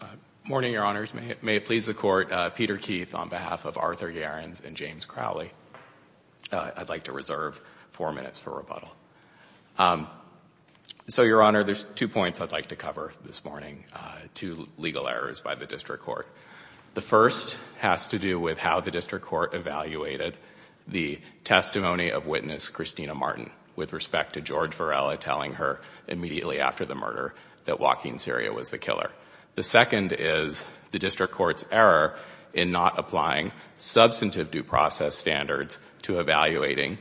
Good morning, Your Honors. May it please the Court, Peter Keith on behalf of Arthur Gerrans and James Crowley, I'd like to reserve four minutes for rebuttal. So, Your Honor, there's two points I'd like to cover this morning, two legal errors by the District Court. The first has to do with how the District Court evaluated the testimony of witness Christina Martin with respect to George Varela telling her immediately after the murder that Joaquin Siria was the killer. The second is the District Court's error in not applying substantive due process standards to evaluating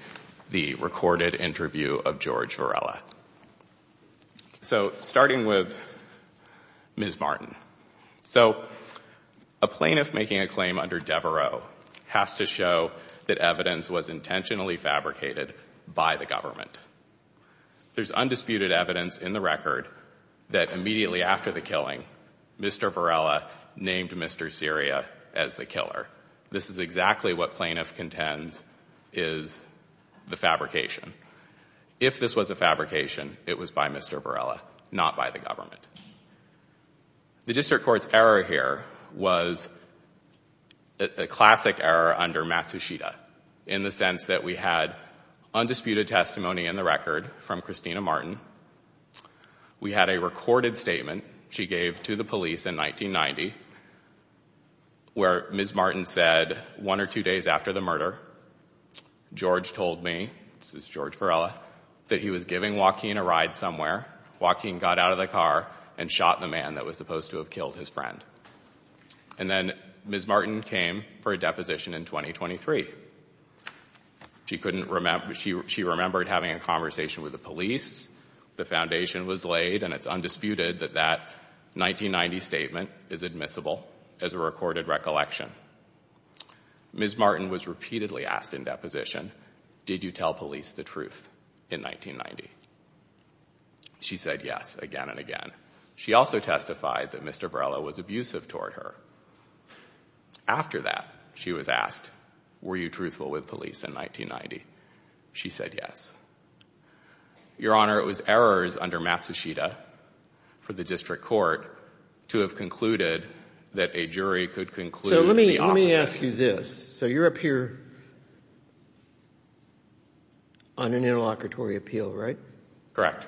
the recorded interview of George Varela. So, starting with Ms. Martin. So, a plaintiff making a claim under Devereux has to show that evidence was intentionally fabricated by the government. There's undisputed evidence in the record that immediately after the killing, Mr. Varela named Mr. Siria as the killer. This is exactly what plaintiff contends is the fabrication. If this was a fabrication, it was by Mr. Varela, not by the government. The District Court's error here was a classic error under Matsushita in the sense that we had undisputed testimony in the record from Christina Martin. We had a recorded statement she gave to the police in 1990 where Ms. Martin said one or two days after the murder, George told me, this is George Varela, that he was giving Joaquin a ride somewhere. Joaquin got out of the car and shot the man that was supposed to have killed his friend. And then Ms. Martin came for a deposition in 2023. She remembered having a conversation with the police. The foundation was laid and it's undisputed that that 1990 statement is admissible as a recorded recollection. Ms. Martin was repeatedly asked in deposition, did you tell police the truth in 1990? She said yes again and again. She also testified that Mr. Varela was abusive toward her. After that, she was asked, were you truthful with police in 1990? She said yes. Your Honor, it was errors under Matsushita for the District Court to have concluded that a jury could conclude that the opposite. Let me ask you this. So you're up here on an interlocutory appeal, right? Correct.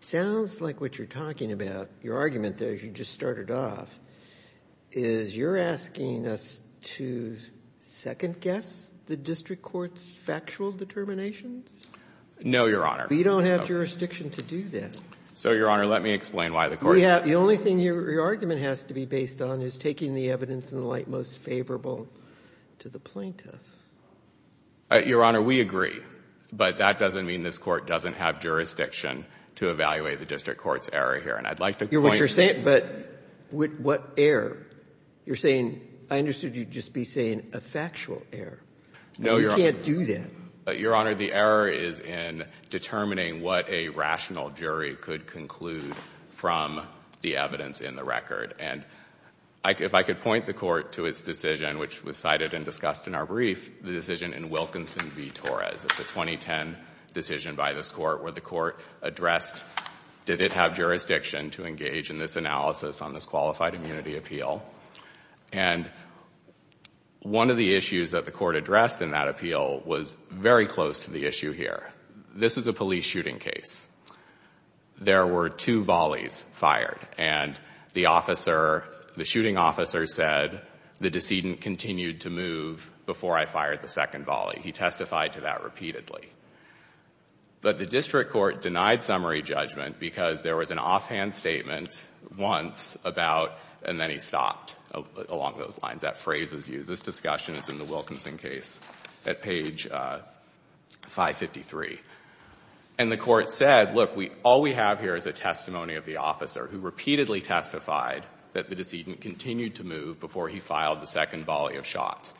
Sounds like what you're talking about, your argument there as you just started off, is you're asking us to second guess the District Court's factual determinations? No, Your Honor. We don't have jurisdiction to do that. So, Your Honor, let me explain why the court— The only thing your argument has to be based on is taking the evidence in the light most favorable to the plaintiff. Your Honor, we agree. But that doesn't mean this Court doesn't have jurisdiction to evaluate the District Court's error here. And I'd like to point— But what error? You're saying, I understood you'd just be saying a factual error. No, Your Honor. You can't do that. Your Honor, the error is in determining what a rational jury could conclude from the evidence in the record. And if I could point the Court to its decision, which was cited and discussed in our brief, the decision in Wilkinson v. Torres, the 2010 decision by this Court where the Court addressed, did it have jurisdiction to engage in this analysis on this qualified immunity appeal? And one of the issues that the Court addressed in that appeal was very close to the issue here. This is a police shooting case. There were two volleys fired. And the officer, the shooting officer, said the decedent continued to move before I fired the second volley. He testified to that repeatedly. But the District Court denied summary judgment because there was an offhand statement once about— and then he stopped along those lines. That phrase was used. This discussion is in the Wilkinson case at page 553. And the Court said, look, all we have here is a testimony of the officer who repeatedly testified that the decedent continued to move before he filed the second volley of shots.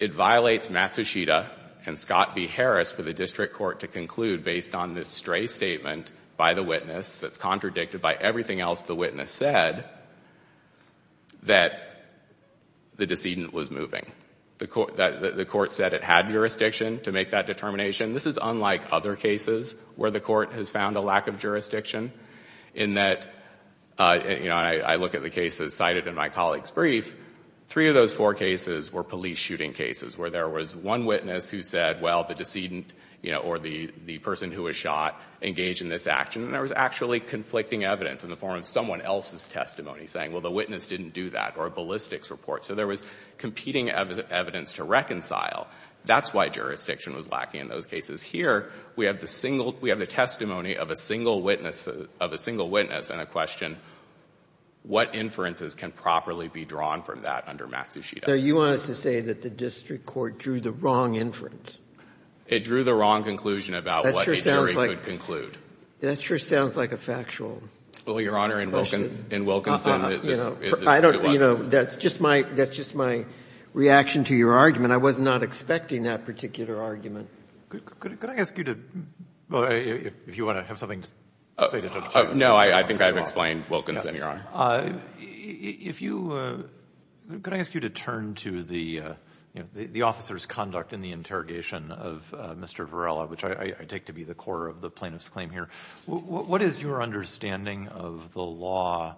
It violates Matsushita and Scott v. Harris for the District Court to conclude, based on this stray statement by the witness that's contradicted by everything else the witness said, that the decedent was moving. The Court said it had jurisdiction to make that determination. This is unlike other cases where the Court has found a lack of jurisdiction, in that, you know, I look at the cases cited in my colleague's brief, three of those four cases were police shooting cases, where there was one witness who said, well, the decedent, you know, or the person who was shot engaged in this action. And there was actually conflicting evidence in the form of someone else's testimony, saying, well, the witness didn't do that, or a ballistics report. So there was competing evidence to reconcile. That's why jurisdiction was lacking in those cases. Here, we have the single—we have the testimony of a single witness, of a single witness, and a question, what inferences can properly be drawn from that under Matsushita? So you want us to say that the District Court drew the wrong inference? It drew the wrong conclusion about what a jury could conclude. That sure sounds like a factual question. Well, Your Honor, in Wilkinson, this— I don't—you know, that's just my—that's just my reaction to your argument. I was not expecting that particular argument. Could I ask you to—if you want to have something to say to Judge Davis. No, I think I've explained Wilkinson, Your Honor. If you—could I ask you to turn to the officer's conduct in the interrogation of Mr. Varela, which I take to be the core of the plaintiff's claim here. What is your understanding of the law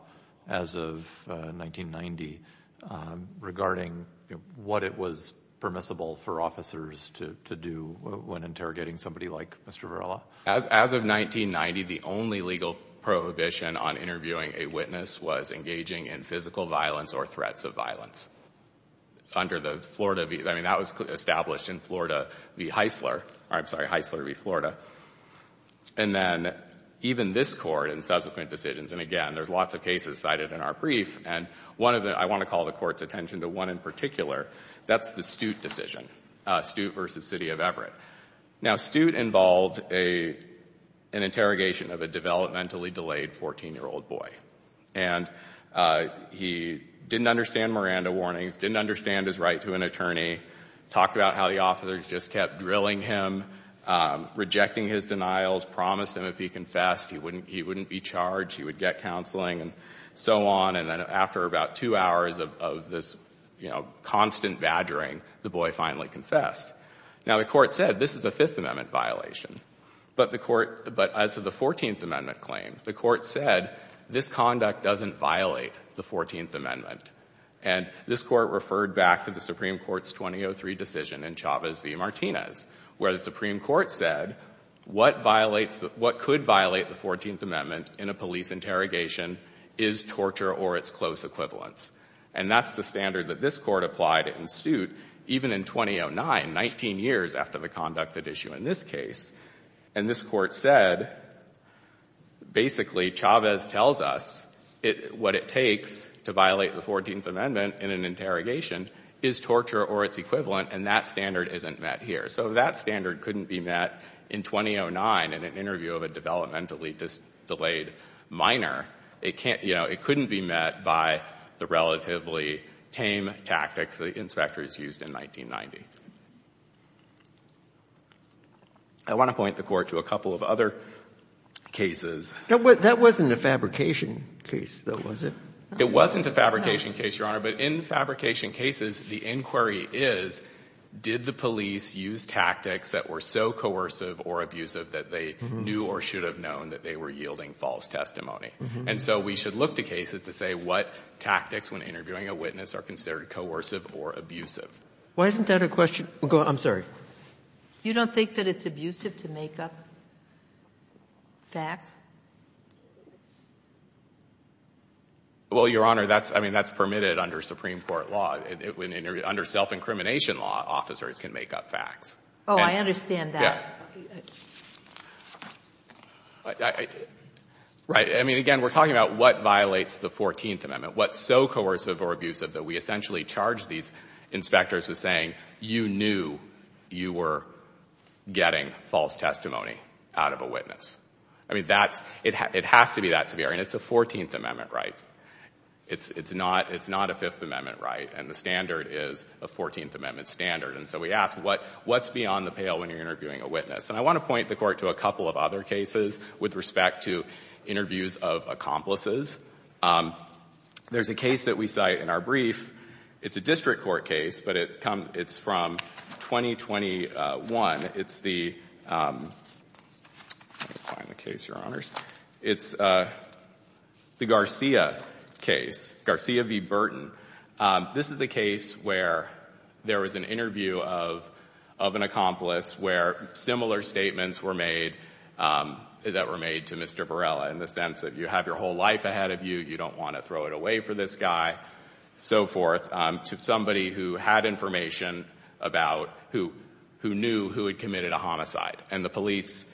as of 1990, regarding what it was permissible for officers to do when interrogating somebody like Mr. Varela? As of 1990, the only legal prohibition on interviewing a witness was engaging in physical violence or threats of violence. Under the Florida—I mean, that was established in Florida v. Heisler— I'm sorry, Heisler v. Florida. And then even this Court in subsequent decisions— and again, there's lots of cases cited in our brief, and one of the—I want to call the Court's attention to one in particular. That's the Stute decision, Stute v. City of Everett. Now, Stute involved an interrogation of a developmentally delayed 14-year-old boy. And he didn't understand Miranda warnings, didn't understand his right to an attorney, talked about how the officers just kept drilling him, rejecting his denials, promised him if he confessed he wouldn't be charged, he would get counseling, and so on. And then after about two hours of this, you know, constant badgering, the boy finally confessed. Now, the Court said this is a Fifth Amendment violation. But the Court—but as of the 14th Amendment claim, the Court said this conduct doesn't violate the 14th Amendment. And this Court referred back to the Supreme Court's 2003 decision in Chavez v. Martinez, where the Supreme Court said what violates— what could violate the 14th Amendment in a police interrogation is torture or its close equivalents. And that's the standard that this Court applied in Stute, even in 2009, 19 years after the conduct at issue in this case. And this Court said, basically, Chavez tells us what it takes to violate the 14th Amendment in an interrogation is torture or its equivalent, and that standard isn't met here. So that standard couldn't be met in 2009 in an interview of a developmentally delayed minor. It can't—you know, it couldn't be met by the relatively tame tactics the inspectors used in 1990. I want to point the Court to a couple of other cases. That wasn't a fabrication case, though, was it? It wasn't a fabrication case, Your Honor. But in fabrication cases, the inquiry is, did the police use tactics that were so coercive or abusive that they knew or should have known that they were yielding false testimony? And so we should look to cases to say what tactics, when interviewing a witness, are considered coercive or abusive. Why isn't that a question? I'm sorry. You don't think that it's abusive to make up facts? Well, Your Honor, that's — I mean, that's permitted under Supreme Court law. Under self-incrimination law, officers can make up facts. Oh, I understand that. Yeah. Right. I mean, again, we're talking about what violates the Fourteenth Amendment, what's so coercive or abusive that we essentially charge these inspectors with saying, you knew you were getting false testimony out of a witness. I mean, that's — it has to be that severe, and it's a Fourteenth Amendment right. It's not a Fifth Amendment right, and the standard is a Fourteenth Amendment standard. And so we ask, what's beyond the pale when you're interviewing a witness? And I want to point the Court to a couple of other cases with respect to interviews of accomplices. There's a case that we cite in our brief. It's a district court case, but it comes — it's from 2021. It's the — let me find the case, Your Honors. It's the Garcia case, Garcia v. Burton. This is a case where there was an interview of an accomplice where similar statements were made that were made to Mr. Varela in the sense that you have your whole life ahead of you, you don't want to throw it away for this guy, so forth, to somebody who had information about who knew who had committed a homicide. And the police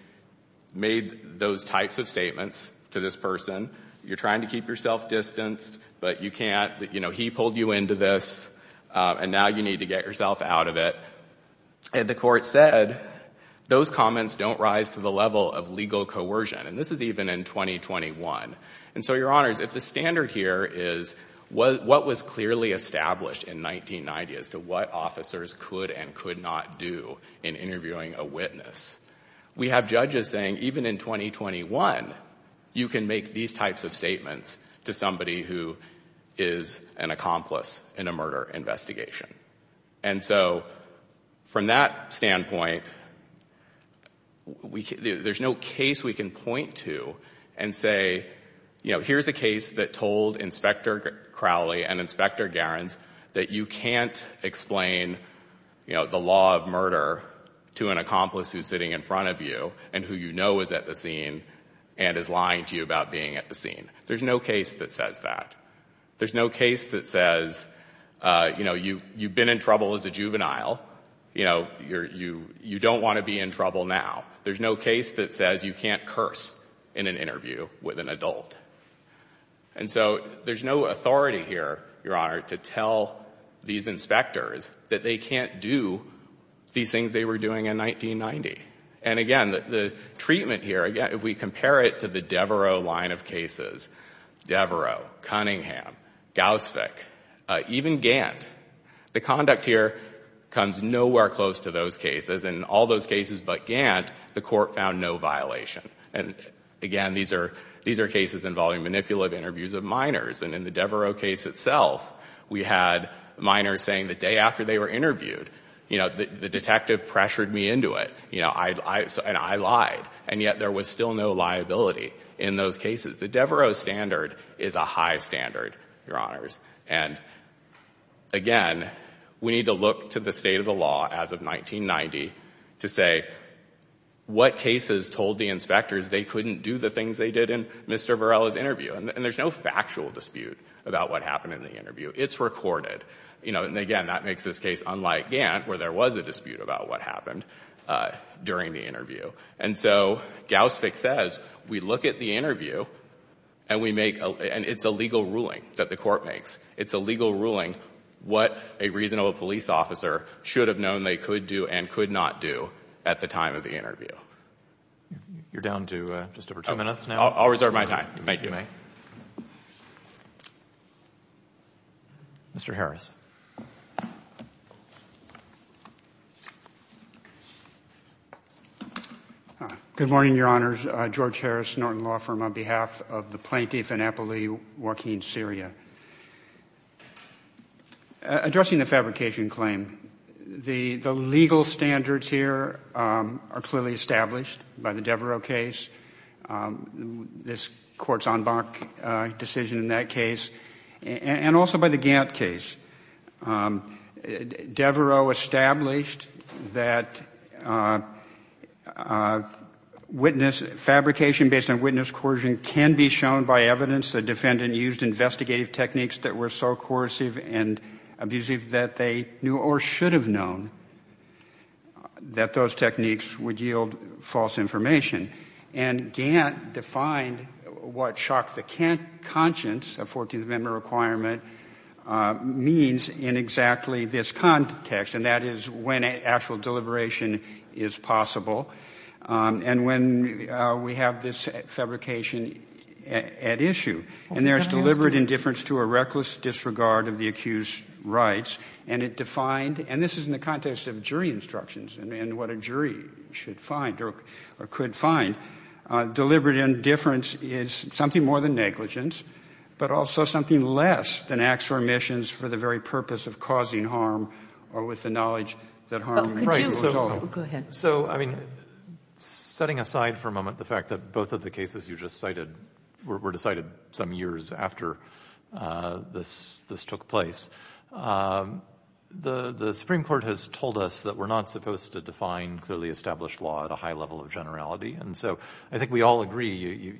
made those types of statements to this person. You're trying to keep yourself distanced, but you can't. You know, he pulled you into this, and now you need to get yourself out of it. And the Court said those comments don't rise to the level of legal coercion, and this is even in 2021. And so, Your Honors, if the standard here is what was clearly established in 1990 as to what officers could and could not do in interviewing a witness, we have judges saying even in 2021, you can make these types of statements to somebody who is an accomplice in a murder investigation. And so, from that standpoint, there's no case we can point to and say, you know, here's a case that told Inspector Crowley and Inspector Garens that you can't explain, you know, the law of murder to an accomplice who's sitting in front of you and who you know is at the scene and is lying to you about being at the scene. There's no case that says that. There's no case that says, you know, you've been in trouble as a juvenile. You know, you don't want to be in trouble now. There's no case that says you can't curse in an interview with an adult. And so, there's no authority here, Your Honor, to tell these inspectors that they can't do these things they were doing in 1990. And again, the treatment here, again, if we compare it to the Devereaux line of cases, Devereaux, Cunningham, Gaussvik, even Gantt, the conduct here comes nowhere close to those cases. In all those cases but Gantt, the court found no violation. And again, these are cases involving manipulative interviews of minors. And in the Devereaux case itself, we had minors saying the day after they were interviewed, you know, the detective pressured me into it, you know, and I lied. And yet, there was still no liability in those cases. The Devereaux standard is a high standard, Your Honors. And again, we need to look to the state of the law as of 1990 to say what cases told the inspectors they couldn't do the things they did in Mr. Varela's interview. And there's no factual dispute about what happened in the interview. It's recorded. You know, and again, that makes this case unlike Gantt, where there was a dispute about what happened during the interview. And so, Gaussvik says, we look at the interview and we make— and it's a legal ruling that the court makes. It's a legal ruling what a reasonable police officer should have known they could do and could not do at the time of the interview. You're down to just over two minutes now. I'll reserve my time. Thank you. Mr. Harris. Good morning, Your Honors. George Harris, Norton Law Firm, on behalf of the plaintiff and appellee, Joaquin Siria. Addressing the fabrication claim, the legal standards here are clearly established by the Devereaux case, this court's en banc decision in that case, and also by the Gantt case. Devereaux established that witness— fabrication based on witness coercion can be shown by evidence the defendant used investigative techniques that were so coercive and abusive that they knew or should have known that those techniques would yield false information. And Gantt defined what shock the conscience of 14th Amendment requirement means in exactly this context, and that is when actual deliberation is possible and when we have this fabrication at issue. And there is deliberate indifference to a reckless disregard of the accused's rights, and it defined—and this is in the context of jury instructions and what a jury should find or could find— deliberate indifference is something more than negligence, but also something less than acts or omissions for the very purpose of causing harm or with the knowledge that harm— Go ahead. So, I mean, setting aside for a moment the fact that both of the cases you just cited were decided some years after this took place, the Supreme Court has told us that we're not supposed to define clearly established law at a high level of generality. And so I think we all agree,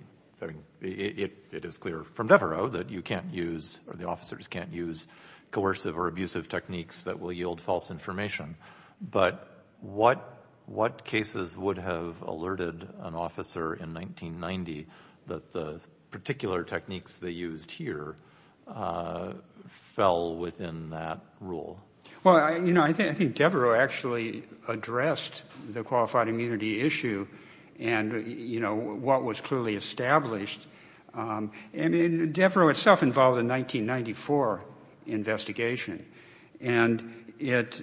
it is clear from Devereaux that you can't use, or the officers can't use, coercive or abusive techniques that will yield false information. But what cases would have alerted an officer in 1990 that the particular techniques they used here fell within that rule? Well, you know, I think Devereaux actually addressed the qualified immunity issue and, you know, what was clearly established. I mean, Devereaux itself involved a 1994 investigation, and it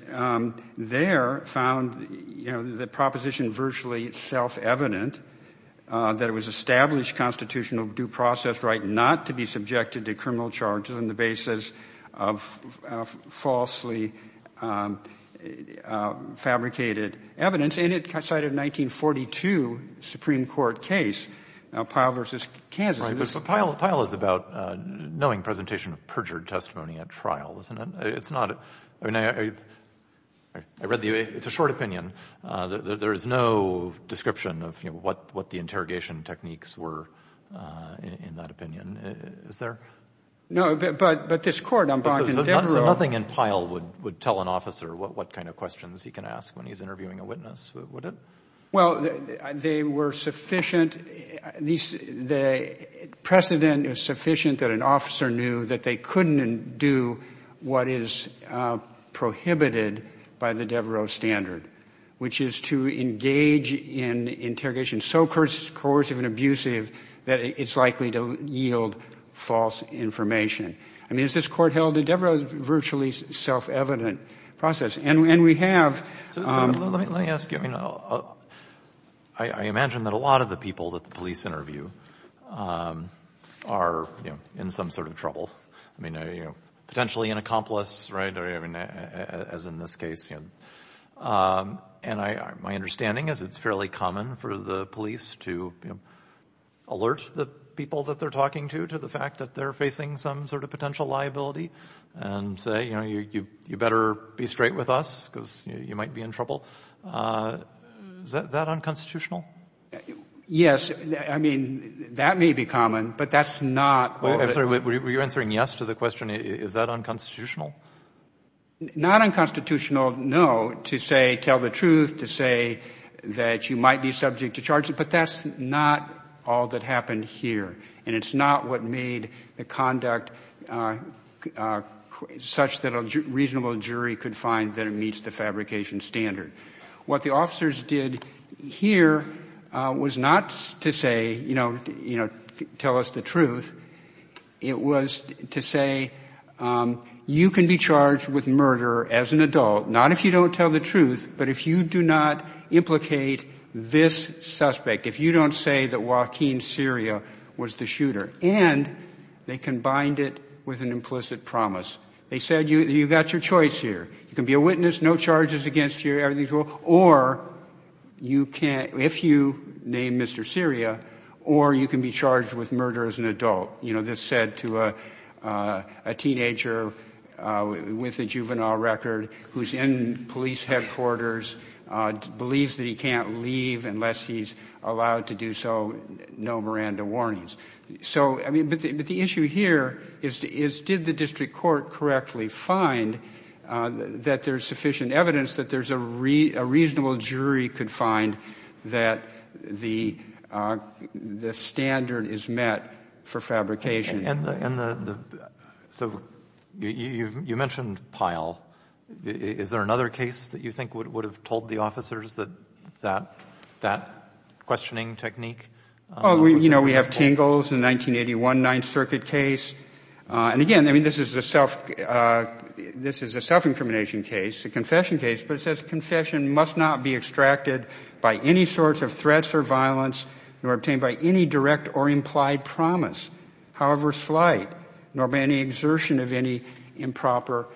there found the proposition virtually self-evident that it was established constitutional due process right not to be subjected to criminal charges on the basis of falsely fabricated evidence, and it cited a 1942 Supreme Court case, Pyle v. Kansas. Right, but Pyle is about knowing presentation of perjured testimony at trial, isn't it? It's not, I mean, I read the, it's a short opinion. There is no description of what the interrogation techniques were in that opinion, is there? No, but this court, I'm talking Devereaux. So nothing in Pyle would tell an officer what kind of questions he can ask when he's interviewing a witness, would it? Well, they were sufficient, the precedent is sufficient that an officer knew that they couldn't do what is prohibited by the Devereaux standard, which is to engage in interrogation so coercive and abusive that it's likely to yield false information. I mean, as this court held, the Devereaux is a virtually self-evident process, and we have... Let me ask you, I mean, I imagine that a lot of the people that the police interview are in some sort of trouble, I mean, potentially an accomplice, right, as in this case. And my understanding is it's fairly common for the police to alert the people that they're talking to to the fact that they're facing some sort of potential liability and say, you know, you better be straight with us because you might be in trouble. Is that unconstitutional? Yes, I mean, that may be common, but that's not... I'm sorry, were you answering yes to the question, is that unconstitutional? Not unconstitutional, no, to say, tell the truth, to say that you might be subject to charges, but that's not all that happened here, and it's not what made the conduct such that a reasonable jury could find that it meets the fabrication standard. What the officers did here was not to say, you know, tell us the truth. It was to say you can be charged with murder as an adult, not if you don't tell the truth, but if you do not implicate this suspect, if you don't say that Joaquin Siria was the shooter, and they combined it with an implicit promise. They said you've got your choice here. You can be a witness, no charges against you, or you can't, if you name Mr. Siria, or you can be charged with murder as an adult. You know, this said to a teenager with a juvenile record who's in police headquarters, believes that he can't leave unless he's allowed to do so, no Miranda warnings. So, I mean, but the issue here is did the district court correctly find that there's sufficient evidence that there's a reasonable jury could find that the standard is met for fabrication? And so you mentioned Pyle. Is there another case that you think would have told the officers that that questioning technique? Oh, you know, we have Tingles, the 1981 Ninth Circuit case. And again, I mean, this is a self-incrimination case, a confession case, but it says confession must not be extracted by any sorts of threats or violence nor obtained by any direct or implied promise. However slight, nor by any exertion of any improper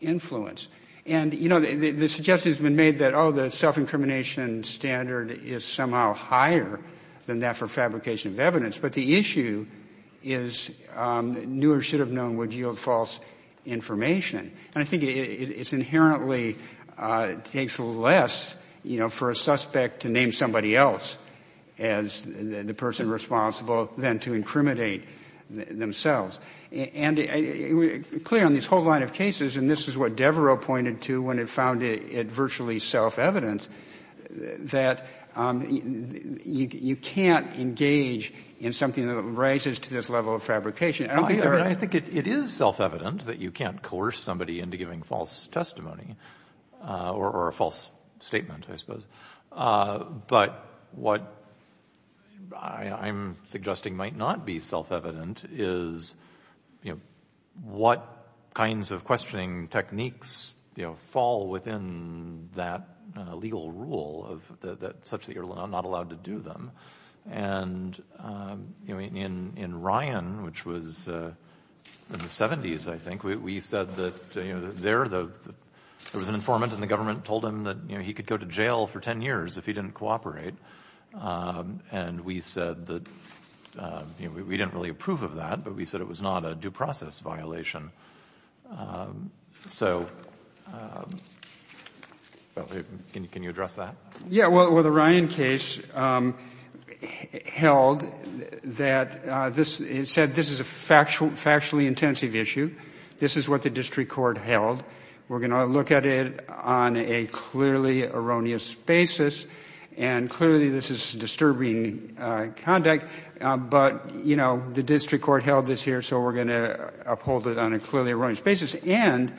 influence. And, you know, the suggestion has been made that, oh, the self-incrimination standard is somehow higher than that for fabrication of evidence. But the issue is newer should have known would yield false information. And I think it's inherently takes less, you know, for a suspect to name somebody else as the person responsible than to incriminate themselves. And clear on this whole line of cases, and this is what Devereux pointed to when it found it virtually self-evident, that you can't engage in something that rises to this level of fabrication. I think it is self-evident that you can't coerce somebody into giving false testimony or a false statement, I suppose. But what I'm suggesting might not be self-evident is, you know, what kinds of questioning techniques fall within that legal rule such that you're not allowed to do them. And in Ryan, which was in the 70s, I think, we said that there was an informant and the government told him that, you know, he could go to jail for 10 years if he didn't cooperate. And we said that we didn't really approve of that, but we said it was not a due process violation. So can you address that? Yeah. Well, the Ryan case held that this said this is a factually intensive issue. This is what the district court held. We're going to look at it on a clearly erroneous basis, and clearly this is disturbing conduct. But, you know, the district court held this here, so we're going to uphold it on a clearly erroneous basis. And,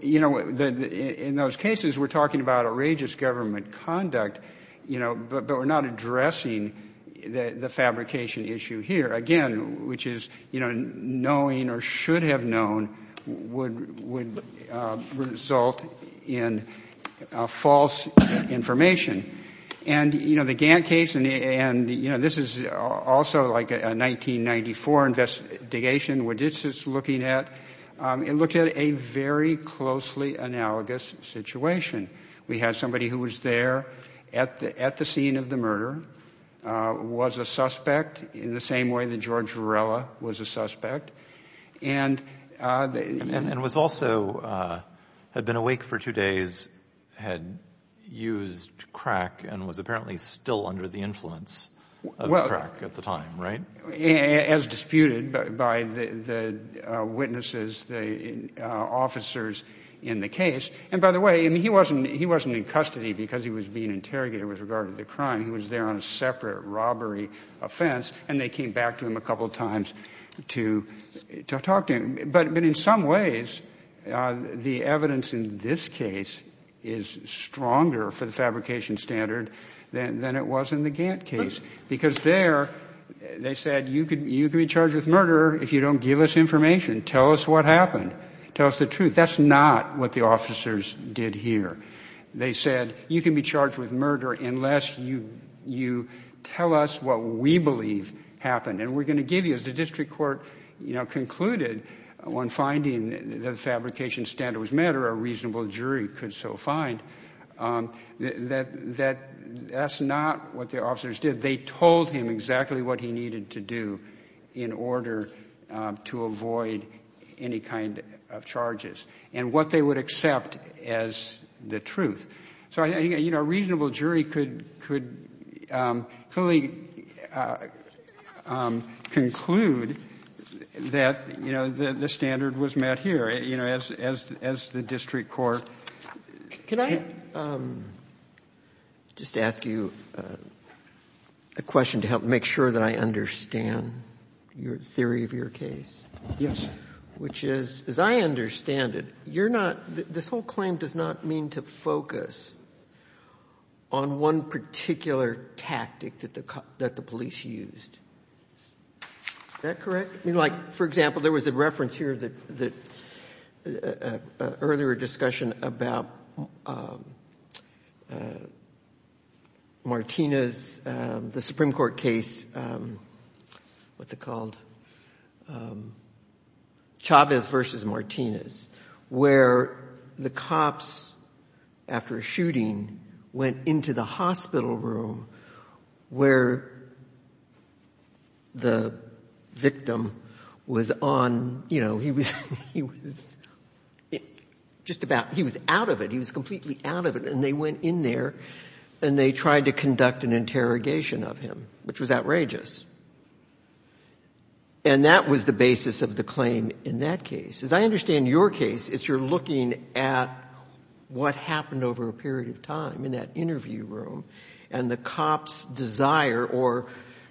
you know, in those cases, we're talking about outrageous government conduct, you know, but we're not addressing the fabrication issue here, again, which is, you know, knowing or should have known would result in false information. And, you know, the Gantt case, and, you know, this is also like a 1994 investigation, what this is looking at, it looked at a very closely analogous situation. We had somebody who was there at the scene of the murder, was a suspect, in the same way that George Varela was a suspect. And was also had been awake for two days, had used crack, and was apparently still under the influence of crack at the time, right? As disputed by the witnesses, the officers in the case. And, by the way, he wasn't in custody because he was being interrogated with regard to the crime. He was there on a separate robbery offense, and they came back to him a couple times to talk to him. But in some ways, the evidence in this case is stronger for the fabrication standard than it was in the Gantt case. Because there, they said, you can be charged with murder if you don't give us information. Tell us what happened. Tell us the truth. That's not what the officers did here. They said, you can be charged with murder unless you tell us what we believe happened. And we're going to give you, as the district court, you know, concluded on finding the fabrication standard was matter, a reasonable jury could so find, that that's not what the officers did. They told him exactly what he needed to do in order to avoid any kind of charges. And what they would accept as the truth. So, you know, a reasonable jury could fully conclude that, you know, the standard was met here. You know, as the district court. Can I just ask you a question to help make sure that I understand your theory of your case? Yes. Which is, as I understand it, you're not, this whole claim does not mean to focus on one particular tactic that the police used. Is that correct? I mean, like, for example, there was a reference here that, earlier discussion about Martinez, the Supreme Court case, what's it called? Chavez versus Martinez. Where the cops, after a shooting, went into the hospital room where the victim was on, you know, he was just about, he was out of it, he was completely out of it. And they went in there and they tried to conduct an interrogation of him, which was outrageous. And that was the basis of the claim in that case. As I understand your case, it's you're looking at what happened over a period of time in that interview room and the cop's desire or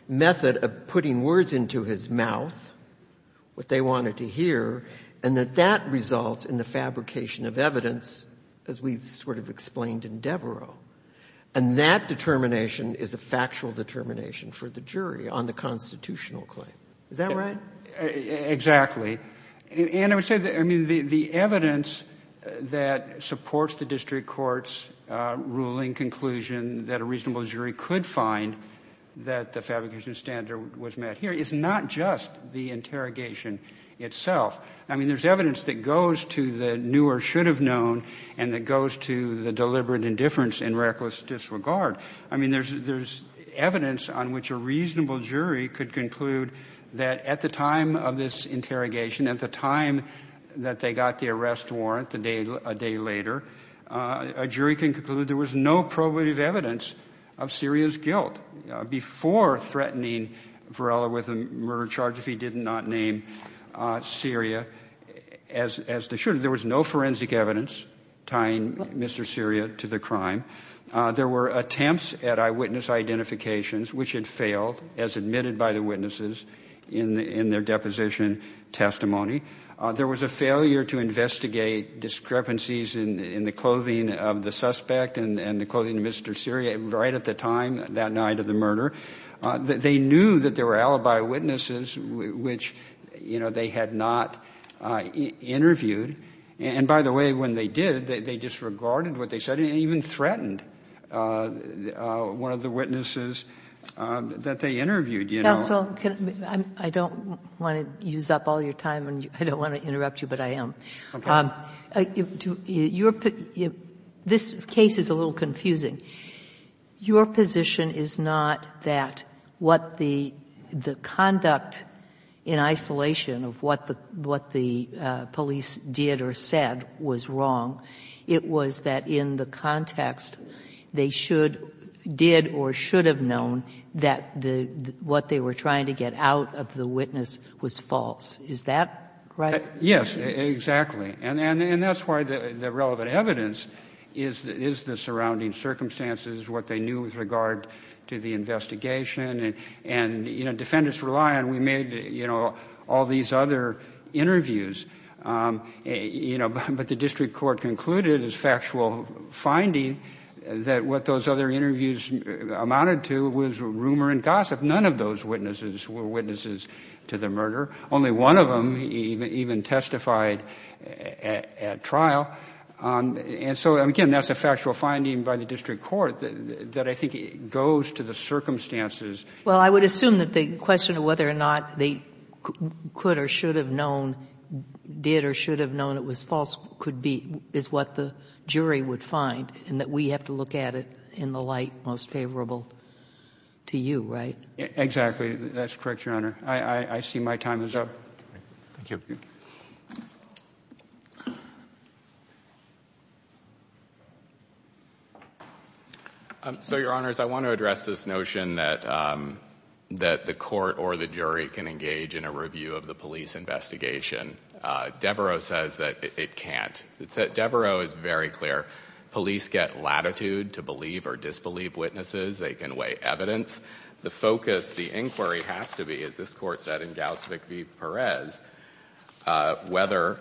method of putting words into his mouth, what they wanted to hear, and that that results in the fabrication of evidence, as we sort of explained in Devereaux. And that determination is a factual determination for the jury on the constitutional claim. Is that right? Exactly. And I would say, I mean, the evidence that supports the district court's ruling conclusion that a reasonable jury could find that the fabrication standard was met here is not just the interrogation itself. I mean, there's evidence that goes to the new or should have known and that goes to the deliberate indifference and reckless disregard. I mean, there's evidence on which a reasonable jury could conclude that at the time of this interrogation, at the time that they got the arrest warrant a day later, a jury can conclude there was no probative evidence of Syria's guilt before threatening Varela with a murder charge if he did not name Syria as the shooter. There was no forensic evidence tying Mr. Syria to the crime. There were attempts at eyewitness identifications, which had failed as admitted by the witnesses in their deposition testimony. There was a failure to investigate discrepancies in the clothing of the suspect and the clothing of Mr. Syria right at the time that night of the murder. They knew that there were alibi witnesses which, you know, they had not interviewed. And by the way, when they did, they disregarded what they said and even threatened one of the witnesses that they interviewed, you know. Counsel, I don't want to use up all your time and I don't want to interrupt you, but I am. This case is a little confusing. Your position is not that what the conduct in isolation of what the police did or said was wrong. It was that in the context they should, did or should have known that what they were trying to get out of the witness was false. Is that right? Yes, exactly. And that's why the relevant evidence is the surrounding circumstances, what they knew with regard to the investigation. And, you know, defendants rely on, we made, you know, all these other interviews. You know, but the district court concluded as factual finding that what those other interviews amounted to was rumor and gossip. None of those witnesses were witnesses to the murder. Only one of them even testified at trial. And so, again, that's a factual finding by the district court that I think goes to the circumstances. Well, I would assume that the question of whether or not they could or should have known, did or should have known it was false, could be, is what the jury would find and that we have to look at it in the light most favorable to you, right? Exactly. That's correct, Your Honor. I see my time is up. Thank you. So, Your Honors, I want to address this notion that the court or the jury can engage in a review of the police investigation. Devereaux says that it can't. Devereaux is very clear. Police get latitude to believe or disbelieve witnesses. They can weigh evidence. The focus, the inquiry has to be, as this Court said in Gauss v. Perez, whether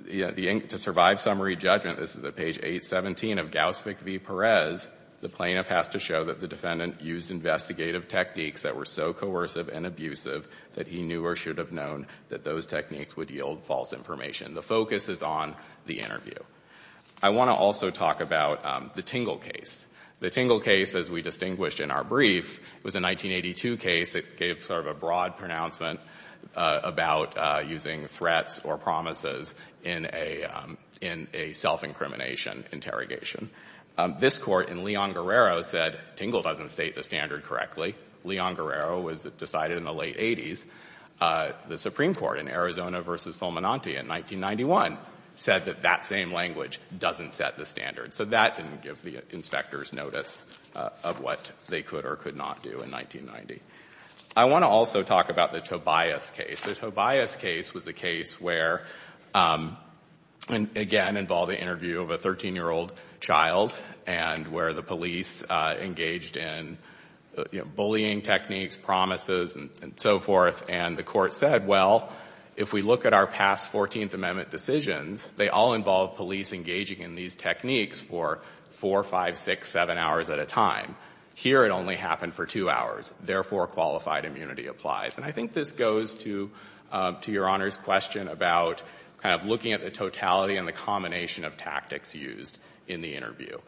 to survive summary judgment, this is at page 817 of Gauss v. Perez, the plaintiff has to show that the defendant used investigative techniques that were so coercive and abusive that he knew or should have known that those techniques would yield false information. The focus is on the interview. I want to also talk about the Tingle case. The Tingle case, as we distinguished in our brief, was a 1982 case that gave sort of a broad pronouncement about using threats or promises in a self-incrimination interrogation. This Court in Leon Guerrero said Tingle doesn't state the standard correctly. Leon Guerrero was decided in the late 80s. The Supreme Court in Arizona v. Fulminante in 1991 said that that same language doesn't set the standard. So that didn't give the inspectors notice of what they could or could not do in 1990. I want to also talk about the Tobias case. The Tobias case was a case where, again, involved an interview of a 13-year-old child and where the police engaged in bullying techniques, promises, and so forth. And the Court said, well, if we look at our past 14th Amendment decisions, they all involved police engaging in these techniques for four, five, six, seven hours at a time. Here it only happened for two hours. Therefore, qualified immunity applies. And I think this goes to Your Honor's question about kind of looking at the totality and the combination of tactics used in the interview.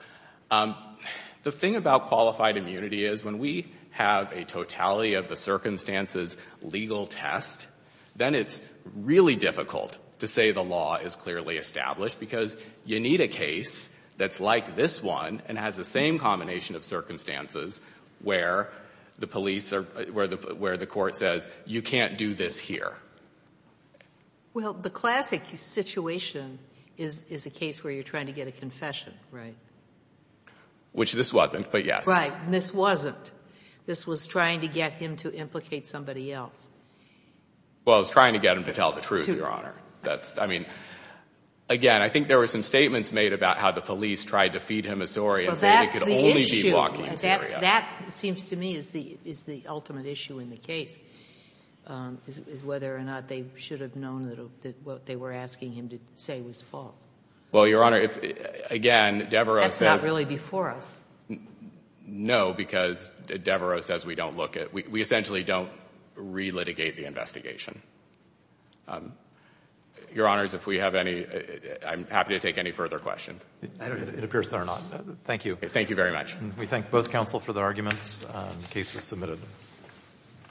The thing about qualified immunity is when we have a totality of the circumstances legal test, then it's really difficult to say the law is clearly established, because you need a case that's like this one and has the same combination of circumstances where the police or where the Court says you can't do this here. Well, the classic situation is a case where you're trying to get a confession. Right. Which this wasn't, but yes. Right. This wasn't. This was trying to get him to implicate somebody else. Well, it was trying to get him to tell the truth, Your Honor. That's, I mean, again, I think there were some statements made about how the police tried to feed him a story and say they could only be walking in Syria. That seems to me is the ultimate issue in the case, is whether or not they should have known that what they were asking him to say was false. Well, Your Honor, again, Devereaux says— That's not really before us. No, because Devereaux says we don't look at, we essentially don't re-litigate the investigation. Your Honors, if we have any, I'm happy to take any further questions. It appears there are not. Thank you. Thank you very much. We thank both counsel for their arguments. The case is submitted.